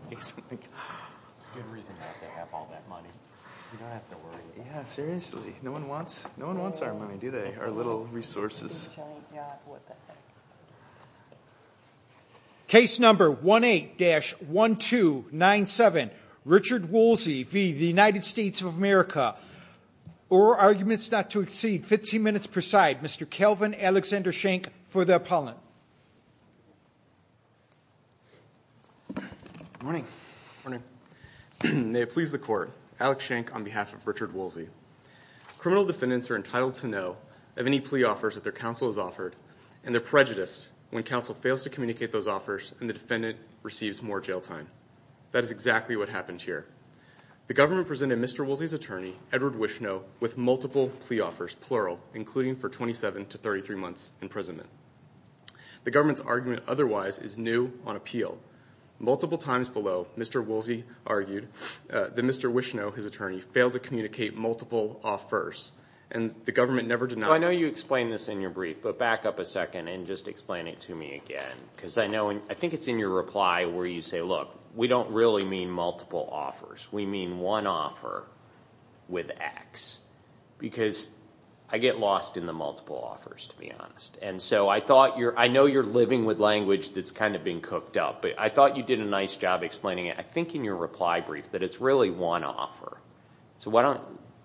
of America or arguments not to exceed 15 minutes per side. Mr. Kelvin Alexander Schenck for the court. Alex Schenck on behalf of Richard Woolsey. Criminal defendants are entitled to know of any plea offers that their counsel has offered and they're prejudiced when counsel fails to communicate those offers and the defendant receives more jail time. That is exactly what happened here. The government presented Mr. Woolsey's attorney Edward Wishnow with multiple plea offers, plural, including for 27 to 33 months imprisonment. The government's view on appeal. Multiple times below, Mr. Woolsey argued that Mr. Wishnow, his attorney, failed to communicate multiple offers and the government never denied him. I know you explained this in your brief, but back up a second and just explain it to me again because I think it's in your reply where you say, look, we don't really mean multiple offers. We mean one offer with X because I get lost in the multiple offers, to be honest. I know you're living with language that's kind of being cooked up, but I thought you did a nice job explaining it. I think in your reply brief that it's really one offer.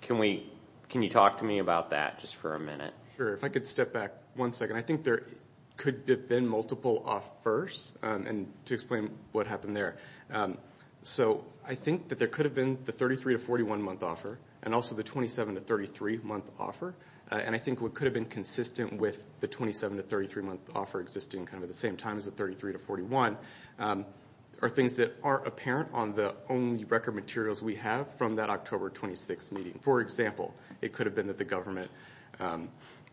Can you talk to me about that just for a minute? Sure. If I could step back one second. I think there could have been multiple offers and to explain what happened there. I think that there could have been the 33 to 41 month offer and also the 27 to 33 month offer. I think what could have been consistent with the 27 to 33 month offer existing at the same time as the 33 to 41 are things that are apparent on the only record materials we have from that October 26th meeting. For example, it could have been that the government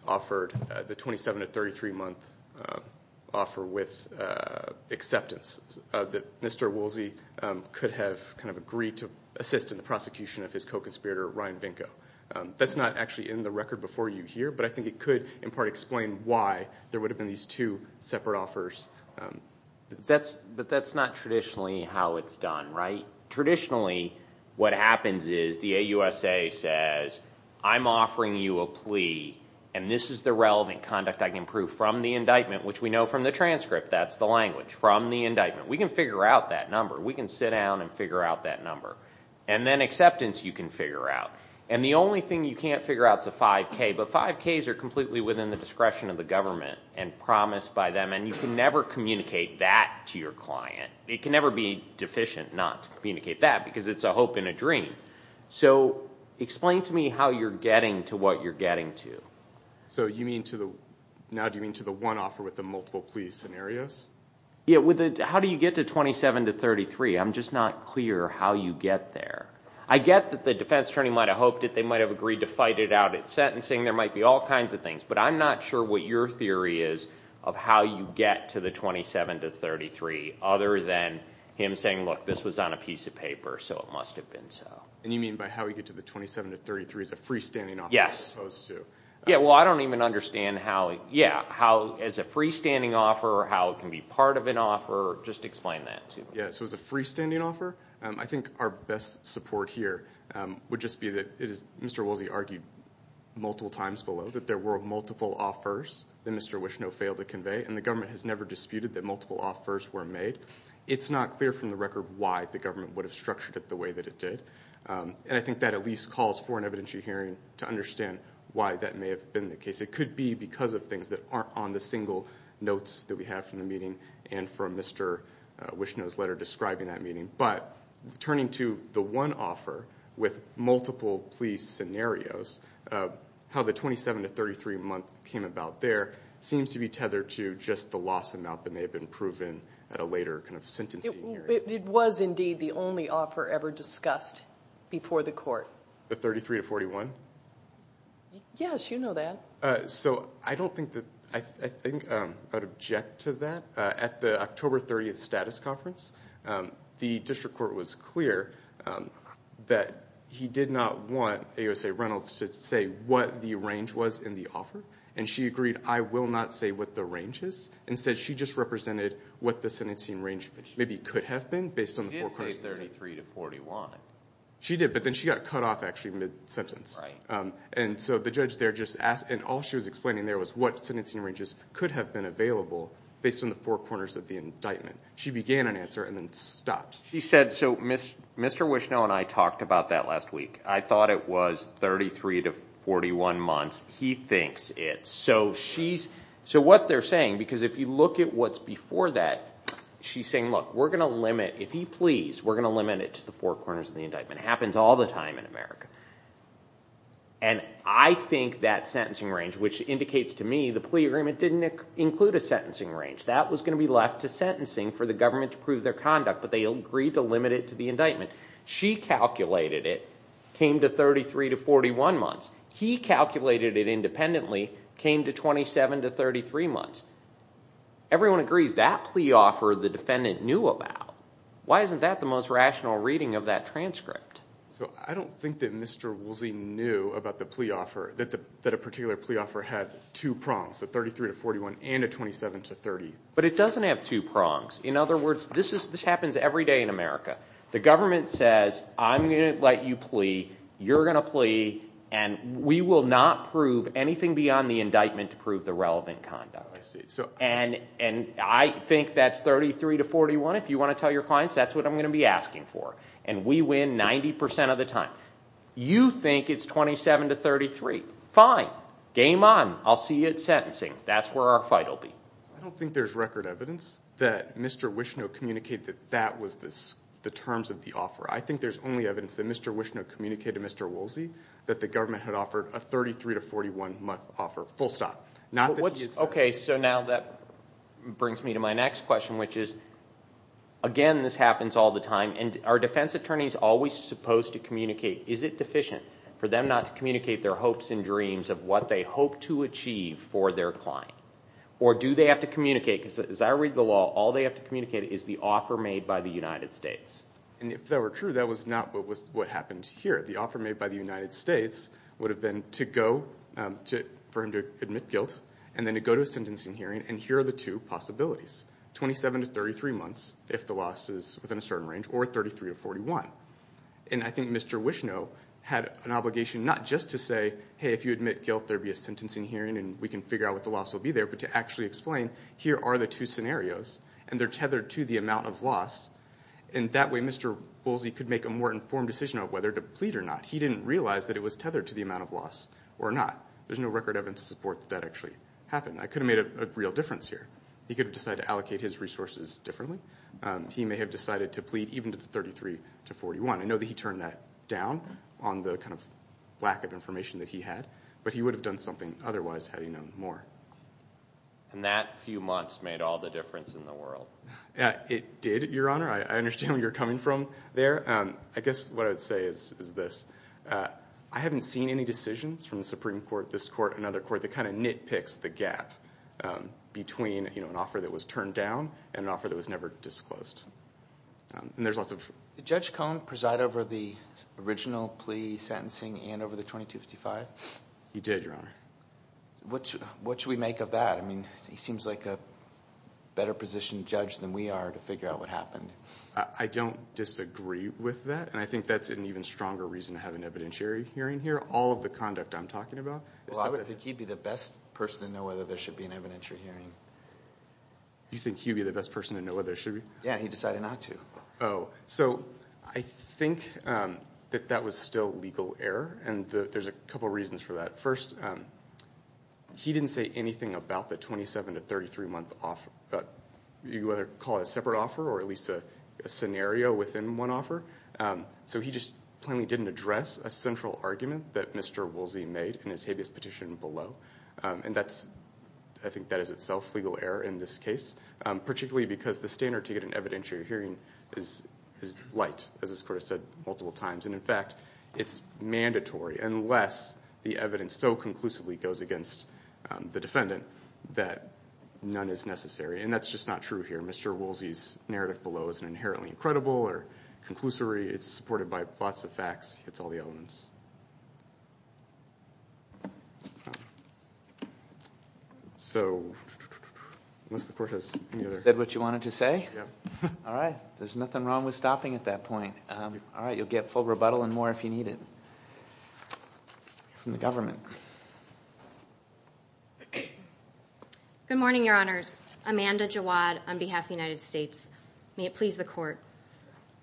offered the 27 to 33 month offer with acceptance. That Mr. Woolsey could have agreed to assist in the prosecution of his co-conspirator, Ryan Vinco. That's not actually in the record before you here, but I think it could in part explain why there would have been these two separate offers. That's not traditionally how it's done, right? Traditionally what happens is the AUSA says, I'm offering you a plea and this is the relevant conduct I can prove from the indictment, which we know from the transcript. That's the language. From the indictment. We can figure out that number. We can sit down and figure out that number. Then acceptance you can figure out. The only thing you can't figure out is a five K, but five Ks are completely within the discretion of the government and promised by them and you can never communicate that to your client. It can never be deficient not to communicate that because it's a hope and a dream. So explain to me how you're getting to what you're getting to. So you mean to the, now do you mean to the one offer with the multiple pleas scenarios? Yeah. How do you get to 27 to 33? I'm just not clear how you get there. I get that the defense attorney might have hoped that they might have agreed to fight it out at sentencing. There might be all kinds of things, but I'm not sure what your theory is of how you get to the 27 to 33 other than him saying, look, this was on a piece of paper, so it must have been so. And you mean by how we get to the 27 to 33 is a freestanding offer? Yes. Yeah. Well, I don't even understand how, yeah, how as a freestanding offer, how it can be part of an offer. Just explain that to me. Yeah. So as a freestanding offer, I think our best support here would just be that it is Mr. Woolsey argued multiple times below that there were multiple offers that Mr. Wishno failed to convey, and the government has never disputed that multiple offers were made. It's not clear from the record why the government would have structured it the way that it did. And I think that at least calls for an evidentiary hearing to understand why that may have been the case. It could be because of things that aren't on the single notes that we have from the meeting and from Mr. Wishno's letter describing that meeting. But turning to the one offer with multiple plea scenarios, how the 27 to 33 month came about there seems to be tethered to just the loss amount that may have been proven at a later kind of sentencing hearing. It was indeed the only offer ever discussed before the court. The 33 to 41? Yes, you know that. So I don't think that, I think I would object to that. At the October 30th status conference, the district court was clear that he did not want AOSA Reynolds to say what the range was in the offer. And she agreed, I will not say what the range is. Instead she just represented what the sentencing range maybe could have been based on the four corners of the indictment. She did say 33 to 41. She did, but then she got cut off actually mid-sentence. And so the judge there just asked, and all she was explaining there was what sentencing ranges could have been available based on the four corners of the indictment. She began an answer and then stopped. She said, so Mr. Wishno and I talked about that last week. I thought it was 33 to 41 months. He thinks it. So she's, so what they're saying, because if you look at what's before that, she's saying, look, we're going to limit, if he pleas, we're going to limit it to the four corners of the indictment. Happens all the time in America. And I think that sentencing range, which indicates to me the plea agreement didn't include a sentencing range. That was going to be left to sentencing for the government to prove their conduct, but they agreed to limit it to the indictment. She calculated it, came to 33 to 41 months. He calculated it independently, came to 27 to 33 months. Everyone agrees that plea offer the defendant knew about. Why isn't that the most rational reading of that transcript? So I don't think that Mr. Woolsey knew about the plea offer, that a particular plea offer had two prongs, a 33 to 41 and a 27 to 30. But it doesn't have two prongs. In other words, this happens every day in America. The government says, I'm going to let you plea, you're going to plea, and we will not prove anything beyond the indictment to prove the relevant conduct. And I think that's 33 to 41. If you want to tell your clients, that's what I'm going to be asking for. And we win 90% of the time. You think it's 27 to 33. Fine. Game on. I'll see you at sentencing. That's where our fight will be. I don't think there's record evidence that Mr. Wischner communicated that that was the terms of the offer. I think there's only evidence that Mr. Wischner communicated to Mr. Woolsey that the government had offered a 33 to 41 month offer, full stop. Okay. So now that brings me to my next question, which is, again, this happens all the time. And are defense attorneys always supposed to communicate, is it deficient for them not to communicate their hopes and dreams of what they hope to achieve for their client? Or do they have to communicate, because as I read the law, all they have to communicate is the offer made by the United States. And if that were true, that was not what happened here. The offer made by the United States would have been to go, for him to admit guilt, and then to go to a sentencing hearing. And here are the two possibilities. 27 to 33 months, if the loss is within a certain range, or 33 to 41. And I think Mr. Wischner had an obligation not just to say, hey, if you admit guilt, there will be a sentencing hearing, and we can figure out what the loss will be there, but to actually explain, here are the two scenarios, and they're tethered to the amount of loss. And that way, Mr. Woolsey could make a more informed decision on whether to plead or not. He didn't realize that it was tethered to the amount of loss or not. There's no record evidence to support that that actually happened. That could have made a real difference here. He could have decided to allocate his resources differently. He may have decided to plead even to the 33 to 41. I know that he turned that down on the kind of lack of information that he had, but he would have done something otherwise, had he known more. And that few months made all the difference in the world? It did, Your Honor. I understand where you're coming from there. I guess what I would say is this. I haven't seen any decisions from the Supreme Court, this court, another court, that kind of nitpicks the gap between an offer that was turned down and an offer that was never disclosed. And there's lots of... Did Judge Cohen preside over the original plea sentencing and over the 2255? He did, Your Honor. What should we make of that? I mean, he seems like a better positioned judge than we are to figure out what happened. I don't disagree with that, and I think that's an even stronger reason to have an evidentiary hearing here. All of the conduct I'm talking about... Well, I think he'd be the best person to know whether there should be an evidentiary hearing. You think he'd be the best person to know whether there should be? Yeah, he decided not to. So I think that that was still legal error, and there's a couple reasons for that. First, he didn't say anything about the 27 to 33-month offer. You can either call it a separate offer or at least a scenario within one offer. So he just plainly didn't address a central argument that Mr. Woolsey made in his habeas petition below. And I think that is itself legal error in this case, particularly because the standard to get an evidentiary hearing is light, as this Court has said multiple times. And in fact, it's mandatory unless the evidence so conclusively goes against the defendant that none is necessary. And that's just not true here. Mr. Woolsey's narrative below isn't inherently incredible or conclusory. It's supported by lots of facts. It's all the elements. So unless the Court has any other... You said what you wanted to say? Yeah. All right. There's nothing wrong with stopping at that point. All right. You'll get full rebuttal and more if you need it from the government. Good morning, Your Honors. Amanda Jawad on behalf of the United States. May it please the Court.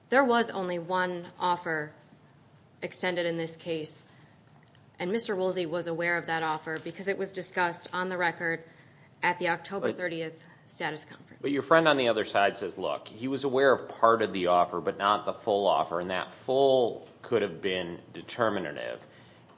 There was only one offer extended in this case, and Mr. Woolsey was aware of that offer because it was discussed on the record at the October 30th status conference. Your friend on the other side says, look, he was aware of part of the offer but not the full offer, and that full could have been determinative.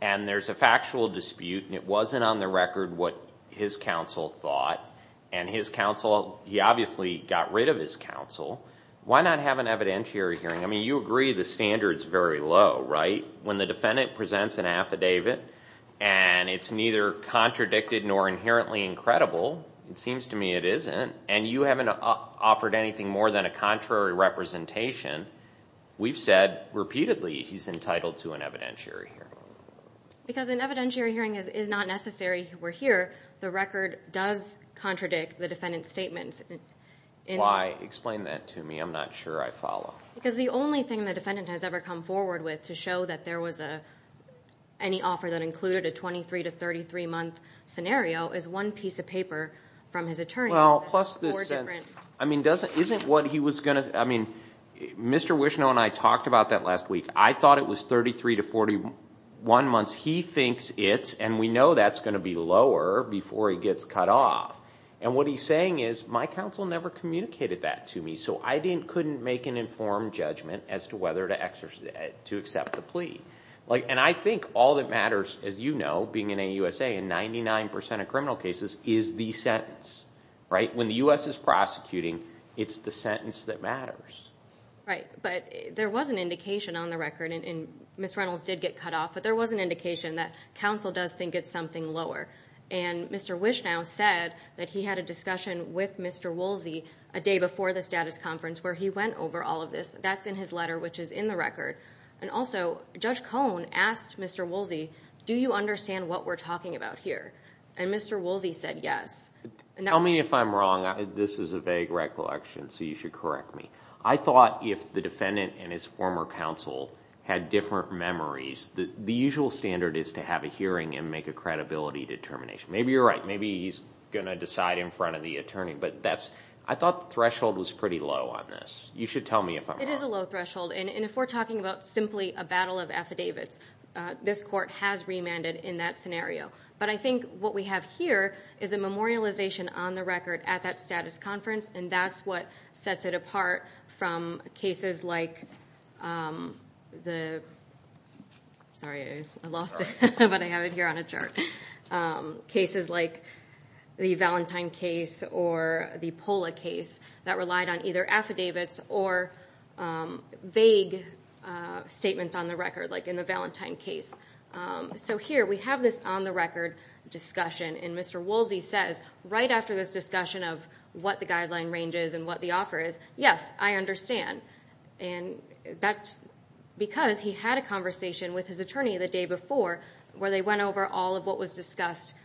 And there's a factual dispute and it wasn't on the record what his counsel thought. And his counsel, he obviously got rid of his counsel. Why not have an evidentiary hearing? I mean, you agree the standard's very low, right? When the defendant presents an affidavit and it's neither contradicted nor inherently incredible, it seems to me it isn't, and you haven't offered anything more than a contrary representation. We've said repeatedly he's entitled to an evidentiary hearing. Because an evidentiary hearing is not necessary. We're here. The record does contradict the defendant's statement. Why? Explain that to me. I'm not sure I follow. Because the only thing the defendant has ever come forward with to show that there was any offer that included a 23 to 33-month scenario is one piece of paper from his attorney. Well, plus this sentence. I mean, doesn't, isn't what he was going to, I mean, Mr. Wishnow and I talked about that last week. I thought it was 33 to 41 months. He thinks it's, and we know that's going to be lower before he gets cut off. And what he's saying is, my counsel never communicated that to me, so I couldn't make an informed judgment as to whether to accept the plea. And I think all that matters, as you know, being in AUSA, in 99% of criminal cases, is the sentence. Right? When the U.S. is prosecuting, it's the sentence that matters. Right. But there was an indication on the record, and Ms. Reynolds did get cut off, but there was an indication that counsel does think it's something lower. And Mr. Wishnow said that he had a discussion with Mr. Woolsey a day before the status conference where he went over all of this. That's in his letter, which is in the record. And also, Judge Cohn asked Mr. Woolsey, do you understand what we're talking about here? And Mr. Woolsey said yes. Tell me if I'm wrong. This is a vague recollection, so you should correct me. I thought if the defendant and his former counsel had different memories, the usual standard is to have a hearing and make a credibility determination. Maybe you're right. Maybe he's going to decide in front of the attorney. But I thought the threshold was pretty low on this. You should tell me if I'm wrong. It is a low threshold. And if we're talking about simply a battle of affidavits, this court has remanded in that scenario. But I think what we have here is a memorialization on the record at that status conference, and that's what sets it apart from cases like the Valentine case or the POLA case that relied on either affidavits or vague statements on the record like in the Valentine case. So here we have this on-the-record discussion, and Mr. Woolsey says right after this discussion of what the guideline range is and what the offer is, yes, I understand. And that's because he had a conversation with his attorney the day before where they went over all of what was discussed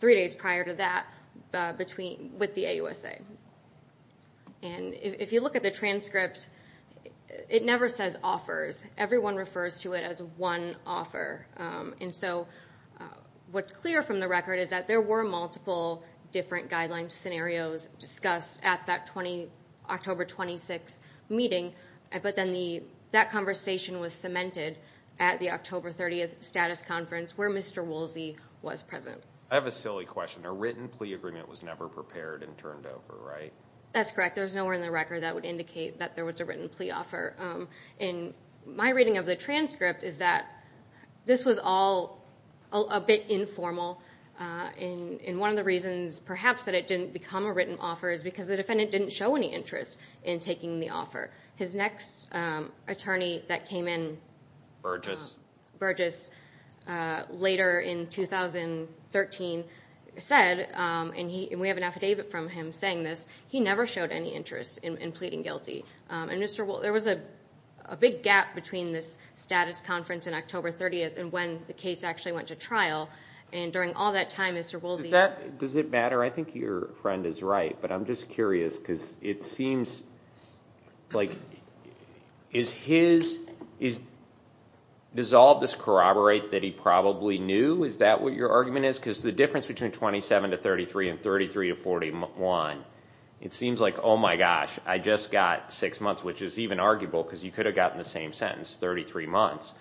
three days prior to that with the AUSA. And if you look at the transcript, it never says offers. Everyone refers to it as one offer. And so what's clear from the record is that there were multiple different guidelines scenarios discussed at that October 26 meeting, but then that conversation was cemented at the October 30th status conference where Mr. Woolsey was present. I have a silly question. A written plea agreement was never prepared and turned over, right? That's correct. There's nowhere in the record that would indicate that there was a written plea offer. And my reading of the transcript is that this was all a bit informal, and one of the reasons perhaps that it didn't become a written offer is because the defendant didn't show any interest in taking the offer. His next attorney that later in 2013 said, and we have an affidavit from him saying this, he never showed any interest in pleading guilty. And Mr. Woolsey, there was a big gap between this status conference and October 30th and when the case actually went to trial. And during all that time, Mr. Woolsey- Does that, does it matter? I think your friend is right, but I'm just curious because it seems like, is his, does all of this corroborate that he probably knew? Is that what your argument is? Because the difference between 27 to 33 and 33 to 41, it seems like, oh my gosh, I just got six months, which is even arguable because you could have gotten the same sentence, 33 months,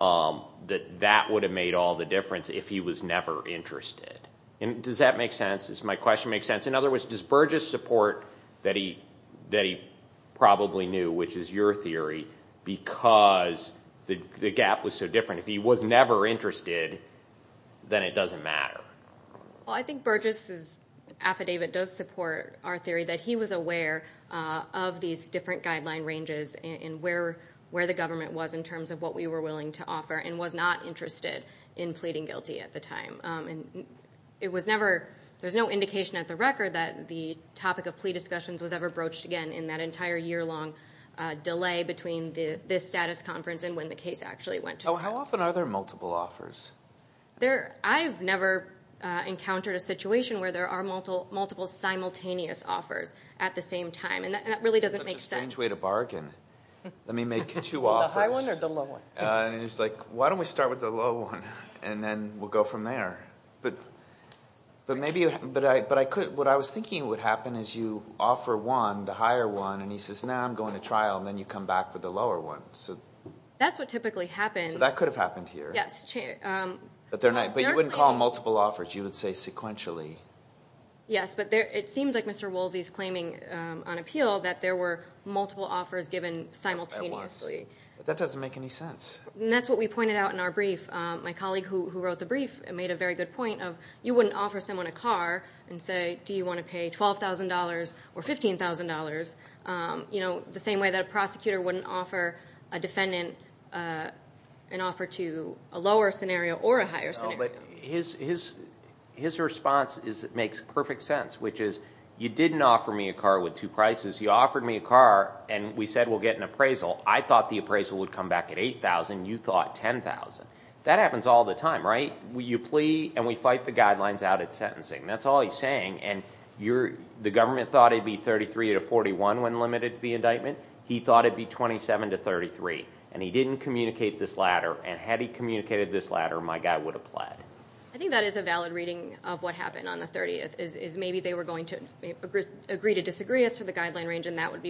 that that would have made all the difference if he was never interested. And does that make sense? Does my question make sense? In other words, does Burgess support that he probably knew, which is your theory, because the gap was so different? If he was never interested, then it doesn't matter. Well, I think Burgess's affidavit does support our theory that he was aware of these different guideline ranges and where, where the government was in terms of what we were willing to offer and was not interested in pleading guilty at the time. And it was never, there's no indication at the record that the topic of plea discussions was ever broached again in that entire year long delay between this status conference and when the case actually went to trial. How often are there multiple offers? There, I've never encountered a situation where there are multiple simultaneous offers at the same time. And that really doesn't make sense. That's such a strange way to bargain. I mean, make two offers. The high one or the low one? And it's like, why don't we start with the low one and then we'll go from there. But, but maybe, but I, but I could, what I was thinking would happen is you offer one, the higher one, and he says, now I'm going to trial, and then you come back with the lower one. So that's what typically happens. That could have happened here. Yes. But they're not, but you wouldn't call them multiple offers. You would say sequentially. Yes, but there, it seems like Mr. Woolsey's claiming on appeal that there were multiple offers given simultaneously. That doesn't make any sense. And that's what we pointed out in our brief. My colleague who wrote the brief made a very good point of, you wouldn't offer someone a car and say, do you want to pay $12,000 or $15,000, you know, the same way that a prosecutor wouldn't offer a defendant an offer to a lower scenario or a higher scenario. No, but his, his, his response is, it makes perfect sense, which is, you didn't offer me a car with two prices. You offered me a car and we said, we'll get an appraisal. I thought the appraisal would come back at $8,000. You thought $10,000. That happens all the time, right? You plea and we fight the guidelines out at sentencing. That's all he's saying. And you're, the government thought it'd be $33,000 to $41,000 when limited to the indictment. He thought it'd be $27,000 to $33,000 and he didn't communicate this ladder. And had he communicated this ladder, my guy would have pled. I think that is a valid reading of what happened on the 30th is maybe they were going to agree to disagree as to the guideline range and that would be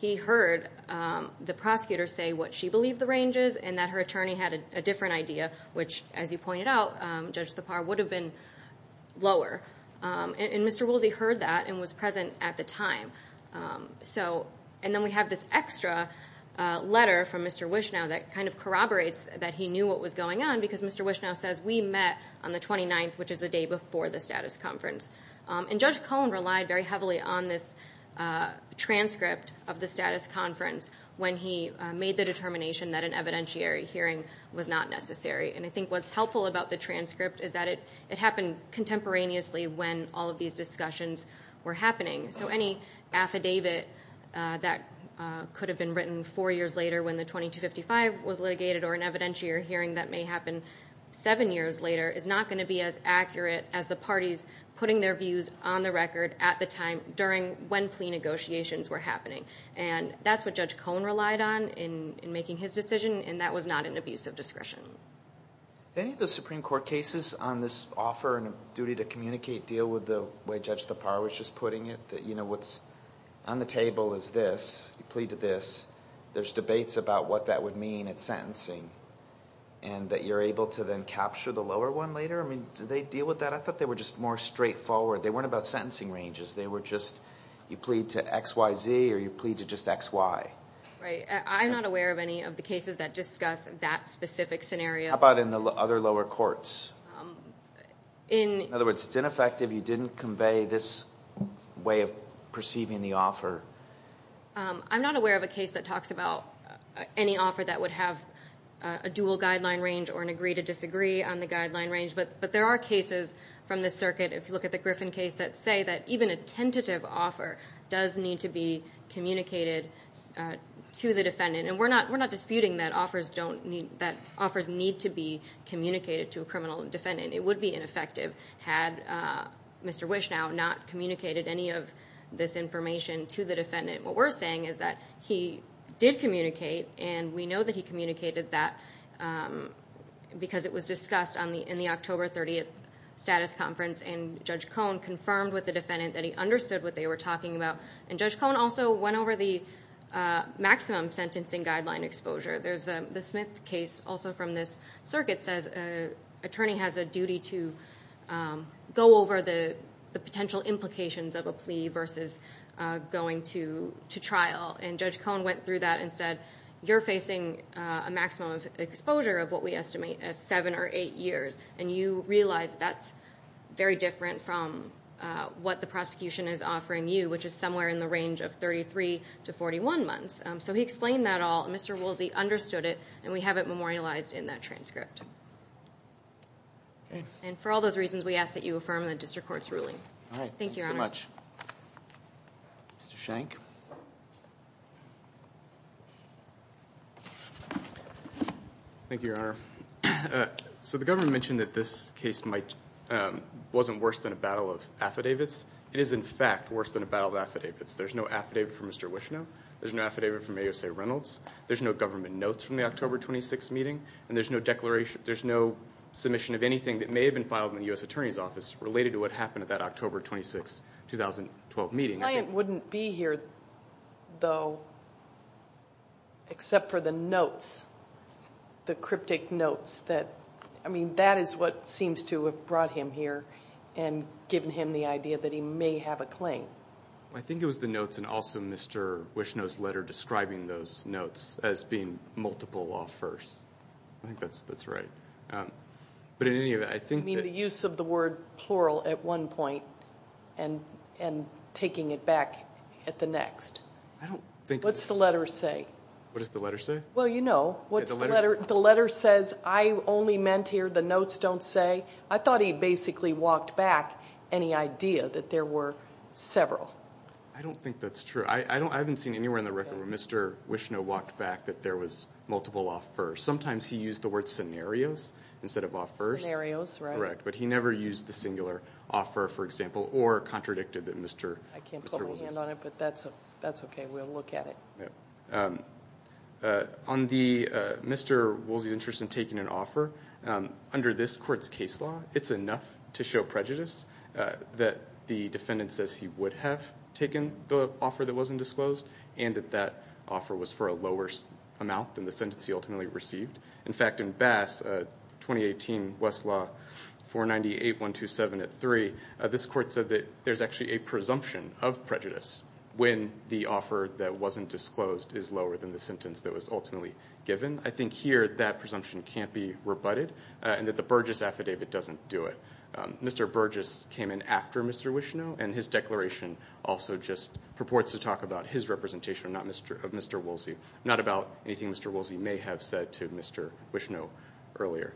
He heard the prosecutor say what she believed the range is and that her attorney had a different idea, which as you pointed out, Judge Thapar would have been lower. And Mr. Woolsey heard that and was present at the time. So, and then we have this extra letter from Mr. Wishnow that kind of corroborates that he knew what was going on because Mr. Wishnow says we met on the 29th, which is a day before the status conference. And Judge Cullen relied very heavily on this transcript of the status conference when he made the determination that an evidentiary hearing was not necessary. And I think what's helpful about the transcript is that it happened contemporaneously when all of these discussions were happening. So any affidavit that could have been written four years later when the 2255 was litigated or an evidentiary hearing that may happen seven years later is not going to be as accurate as the parties putting their during when plea negotiations were happening. And that's what Judge Cullen relied on in making his decision. And that was not an abuse of discretion. Any of the Supreme Court cases on this offer and duty to communicate deal with the way Judge Thapar was just putting it that, you know, what's on the table is this. You plead to this. There's debates about what that would mean at sentencing and that you're able to then capture the lower one later. I mean, do they deal with that? I thought they were just more straightforward. They weren't about sentencing ranges. They were just you plead to X, Y, Z or you plead to just X, Y. Right. I'm not aware of any of the cases that discuss that specific scenario. How about in the other lower courts? In other words, it's ineffective. You didn't convey this way of perceiving the offer. I'm not aware of a case that talks about any offer that would have a dual guideline range or an agree to disagree on the guideline range. But there are cases from the circuit, if you look at the Griffin case, that say that even a tentative offer does need to be communicated to the defendant. And we're not disputing that offers need to be communicated to a criminal defendant. It would be ineffective had Mr. Wishnow not communicated any of this information to the defendant. What we're saying is that he did communicate and we know that he communicated that because it was discussed in the October 30th status conference. And Judge Cohn confirmed with the defendant that he understood what they were talking about. And Judge Cohn also went over the maximum sentencing guideline exposure. There's the Smith case also from this circuit says an attorney has a duty to go over the to trial. And Judge Cohn went through that and said, you're facing a maximum of exposure of what we estimate as seven or eight years. And you realize that's very different from what the prosecution is offering you, which is somewhere in the range of 33 to 41 months. So he explained that all. Mr. Woolsey understood it. And we have it memorialized in that transcript. And for all those reasons, we ask that you affirm the district court's ruling. All right. Thank you so much. Mr. Shank. Thank you, Your Honor. So the government mentioned that this case wasn't worse than a battle of affidavits. It is, in fact, worse than a battle of affidavits. There's no affidavit from Mr. Wishnow. There's no affidavit from A.O.C. Reynolds. There's no government notes from the October 26th meeting. And there's no declaration. There's no submission of anything that may have been filed in the U.S. Attorney's Office related to what happened at that October 26, 2012 meeting. The client wouldn't be here, though, except for the notes, the cryptic notes. I mean, that is what seems to have brought him here and given him the idea that he may have a claim. I think it was the notes and also Mr. Wishnow's letter describing those notes as being multiple law firsts. I think that's right. But in any event, I think that the use of the word plural at one point and taking it back at the next. What's the letter say? What does the letter say? Well, you know, the letter says, I only meant here, the notes don't say. I thought he basically walked back any idea that there were several. I don't think that's true. I haven't seen anywhere in the record where Mr. Wishnow walked back that there was multiple law firsts. Sometimes he used the word scenarios instead of law firsts. Correct. But he never used the singular offer, for example, or contradicted that Mr. Wolsey's. I can't put my hand on it, but that's okay. We'll look at it. On Mr. Wolsey's interest in taking an offer, under this court's case law, it's enough to show prejudice that the defendant says he would have taken the offer that wasn't disclosed and that that offer was for a lower amount than the sentence he ultimately received. In fact, in Bass, 2018 Westlaw 498-127-3, this court said that there's actually a presumption of prejudice when the offer that wasn't disclosed is lower than the sentence that was ultimately given. I think here that presumption can't be rebutted and that the Burgess affidavit doesn't do it. Mr. Burgess came in after Mr. Wishnow and his declaration also just purports to talk about his representation, not Mr. Wolsey, not about anything Mr. Wolsey may have said to Mr. Wishnow earlier.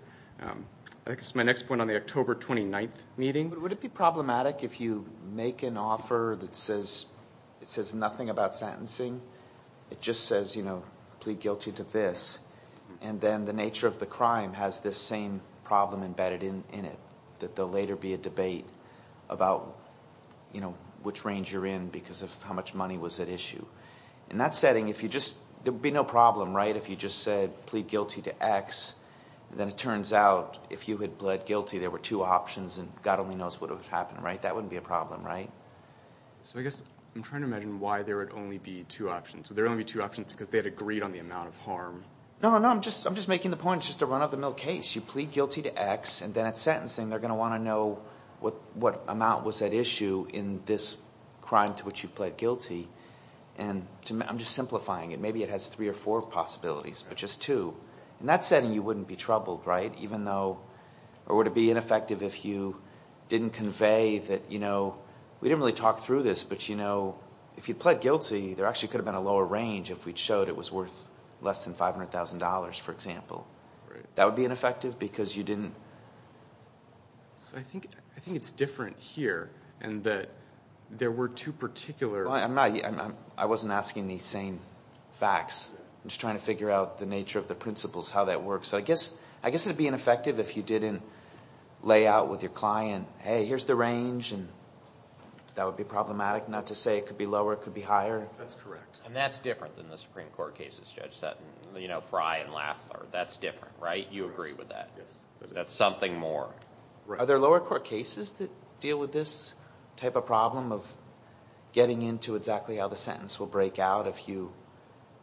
I guess my next point on the October 29th meeting. Would it be problematic if you make an offer that says nothing about sentencing? It just says, you know, plead guilty to this, and then the nature of the crime has this same problem embedded in it, that there will later be a debate about, you know, which range you're in because of how much money was at issue. In that setting, if you just, there would be no problem, right, if you just said plead guilty to X, then it turns out if you had pled guilty, there were two options and God only knows what would have happened, right? That wouldn't be a problem, right? So I guess I'm trying to imagine why there would only be two options. Would there only be two options because they had agreed on the amount of harm? No, no, no. I'm just, I'm just making the point. It's just a run-of-the-mill case. You plead guilty to X and then at sentencing, they're going to want to know what amount was at issue in this crime to which you've pled guilty. And I'm just simplifying it. Maybe it has three or four possibilities, but just two. In that setting, you wouldn't be troubled, right, even though, or it would be ineffective if you didn't convey that, you know, we didn't really talk through this, but, you know, if you pled guilty, there actually could have been a lower range if we'd showed it was worth less than $500,000, for example. That would be ineffective because you didn't. So I think, I think it's different here and that there were two particular... Well, I'm not, I wasn't asking these same facts. I'm just trying to figure out the nature of the principles, how that works. So I guess, I guess it'd be ineffective if you didn't lay out with your client, hey, here's the range and that would be problematic. Not to say it could be lower, it could be higher. That's correct. And that's different than the Supreme Court cases, Judge Sutton, you know, Frye and Lathler. That's different, right? You agree with that? Yes. That's something more. Are there lower court cases that deal with this type of problem of getting into exactly how the sentence will break out if you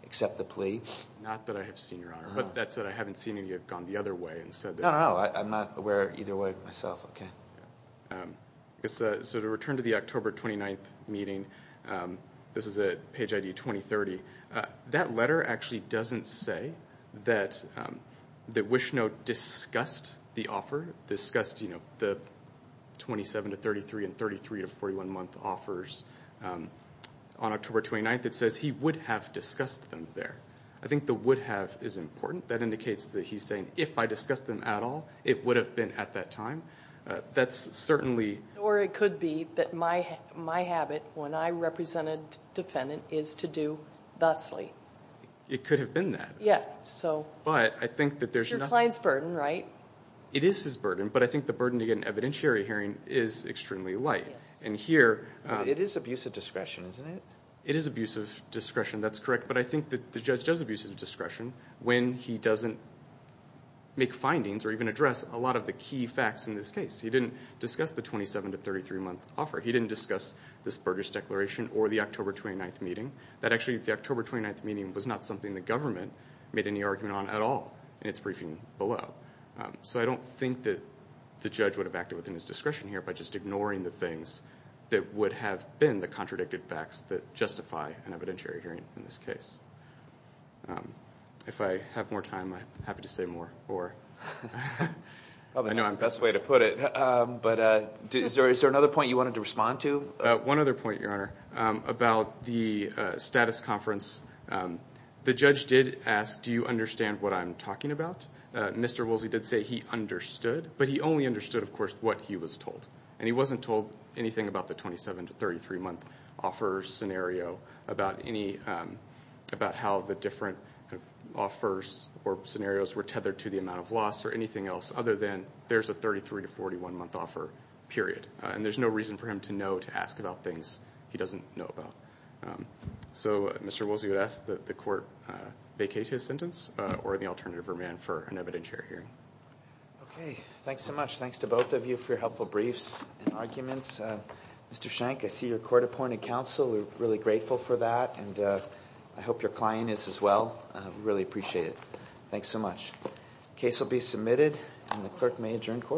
accept the plea? Not that I have seen, Your Honor, but that said, I haven't seen any that have gone the other way and said that... No, no, no. I'm not aware either way myself. Okay. Yeah. So to return to the October 29th meeting, this is at page ID 2030. That letter actually doesn't say that Wishnot discussed the offer, discussed, you know, the 27 to 33 and 33 to 41 month offers on October 29th. It says he would have discussed them there. I think the would have is important. That indicates that he's saying, if I discussed them at all, it would have been at that time. That's certainly... Thusly. It could have been that. Yeah. So... But I think that there's... It's your client's burden, right? It is his burden, but I think the burden to get an evidentiary hearing is extremely light. And here... It is abuse of discretion, isn't it? It is abuse of discretion. That's correct. But I think that the judge does abuse of discretion when he doesn't make findings or even address a lot of the key facts in this case. He didn't discuss the 27 to 33 month offer. He didn't discuss this Burgess Declaration or the October 29th meeting. That actually... the October 29th meeting was not something the government made any argument on at all in its briefing below. So I don't think that the judge would have acted within his discretion here by just ignoring the things that would have been the contradicted facts that justify an evidentiary hearing in this case. If I have more time, I'm happy to say more or... I know I'm best way to put it, but is there another point you wanted to respond to? One other point, Your Honor, about the status conference. The judge did ask, do you understand what I'm talking about? Mr. Woolsey did say he understood, but he only understood, of course, what he was told. And he wasn't told anything about the 27 to 33 month offer scenario, about how the different offers or scenarios were tethered to the amount of loss or anything else other than there's a 33 to 41 month offer, period. And there's no reason for him to know to ask about things he doesn't know about. So Mr. Woolsey would ask that the court vacate his sentence or the alternative remand for an evidentiary hearing. Okay. Thanks so much. Thanks to both of you for your helpful briefs and arguments. Mr. Shank, I see you're court-appointed counsel, we're really grateful for that, and I hope your client is as well. Really appreciate it. Thanks so much. The case will be submitted and the clerk may adjourn court.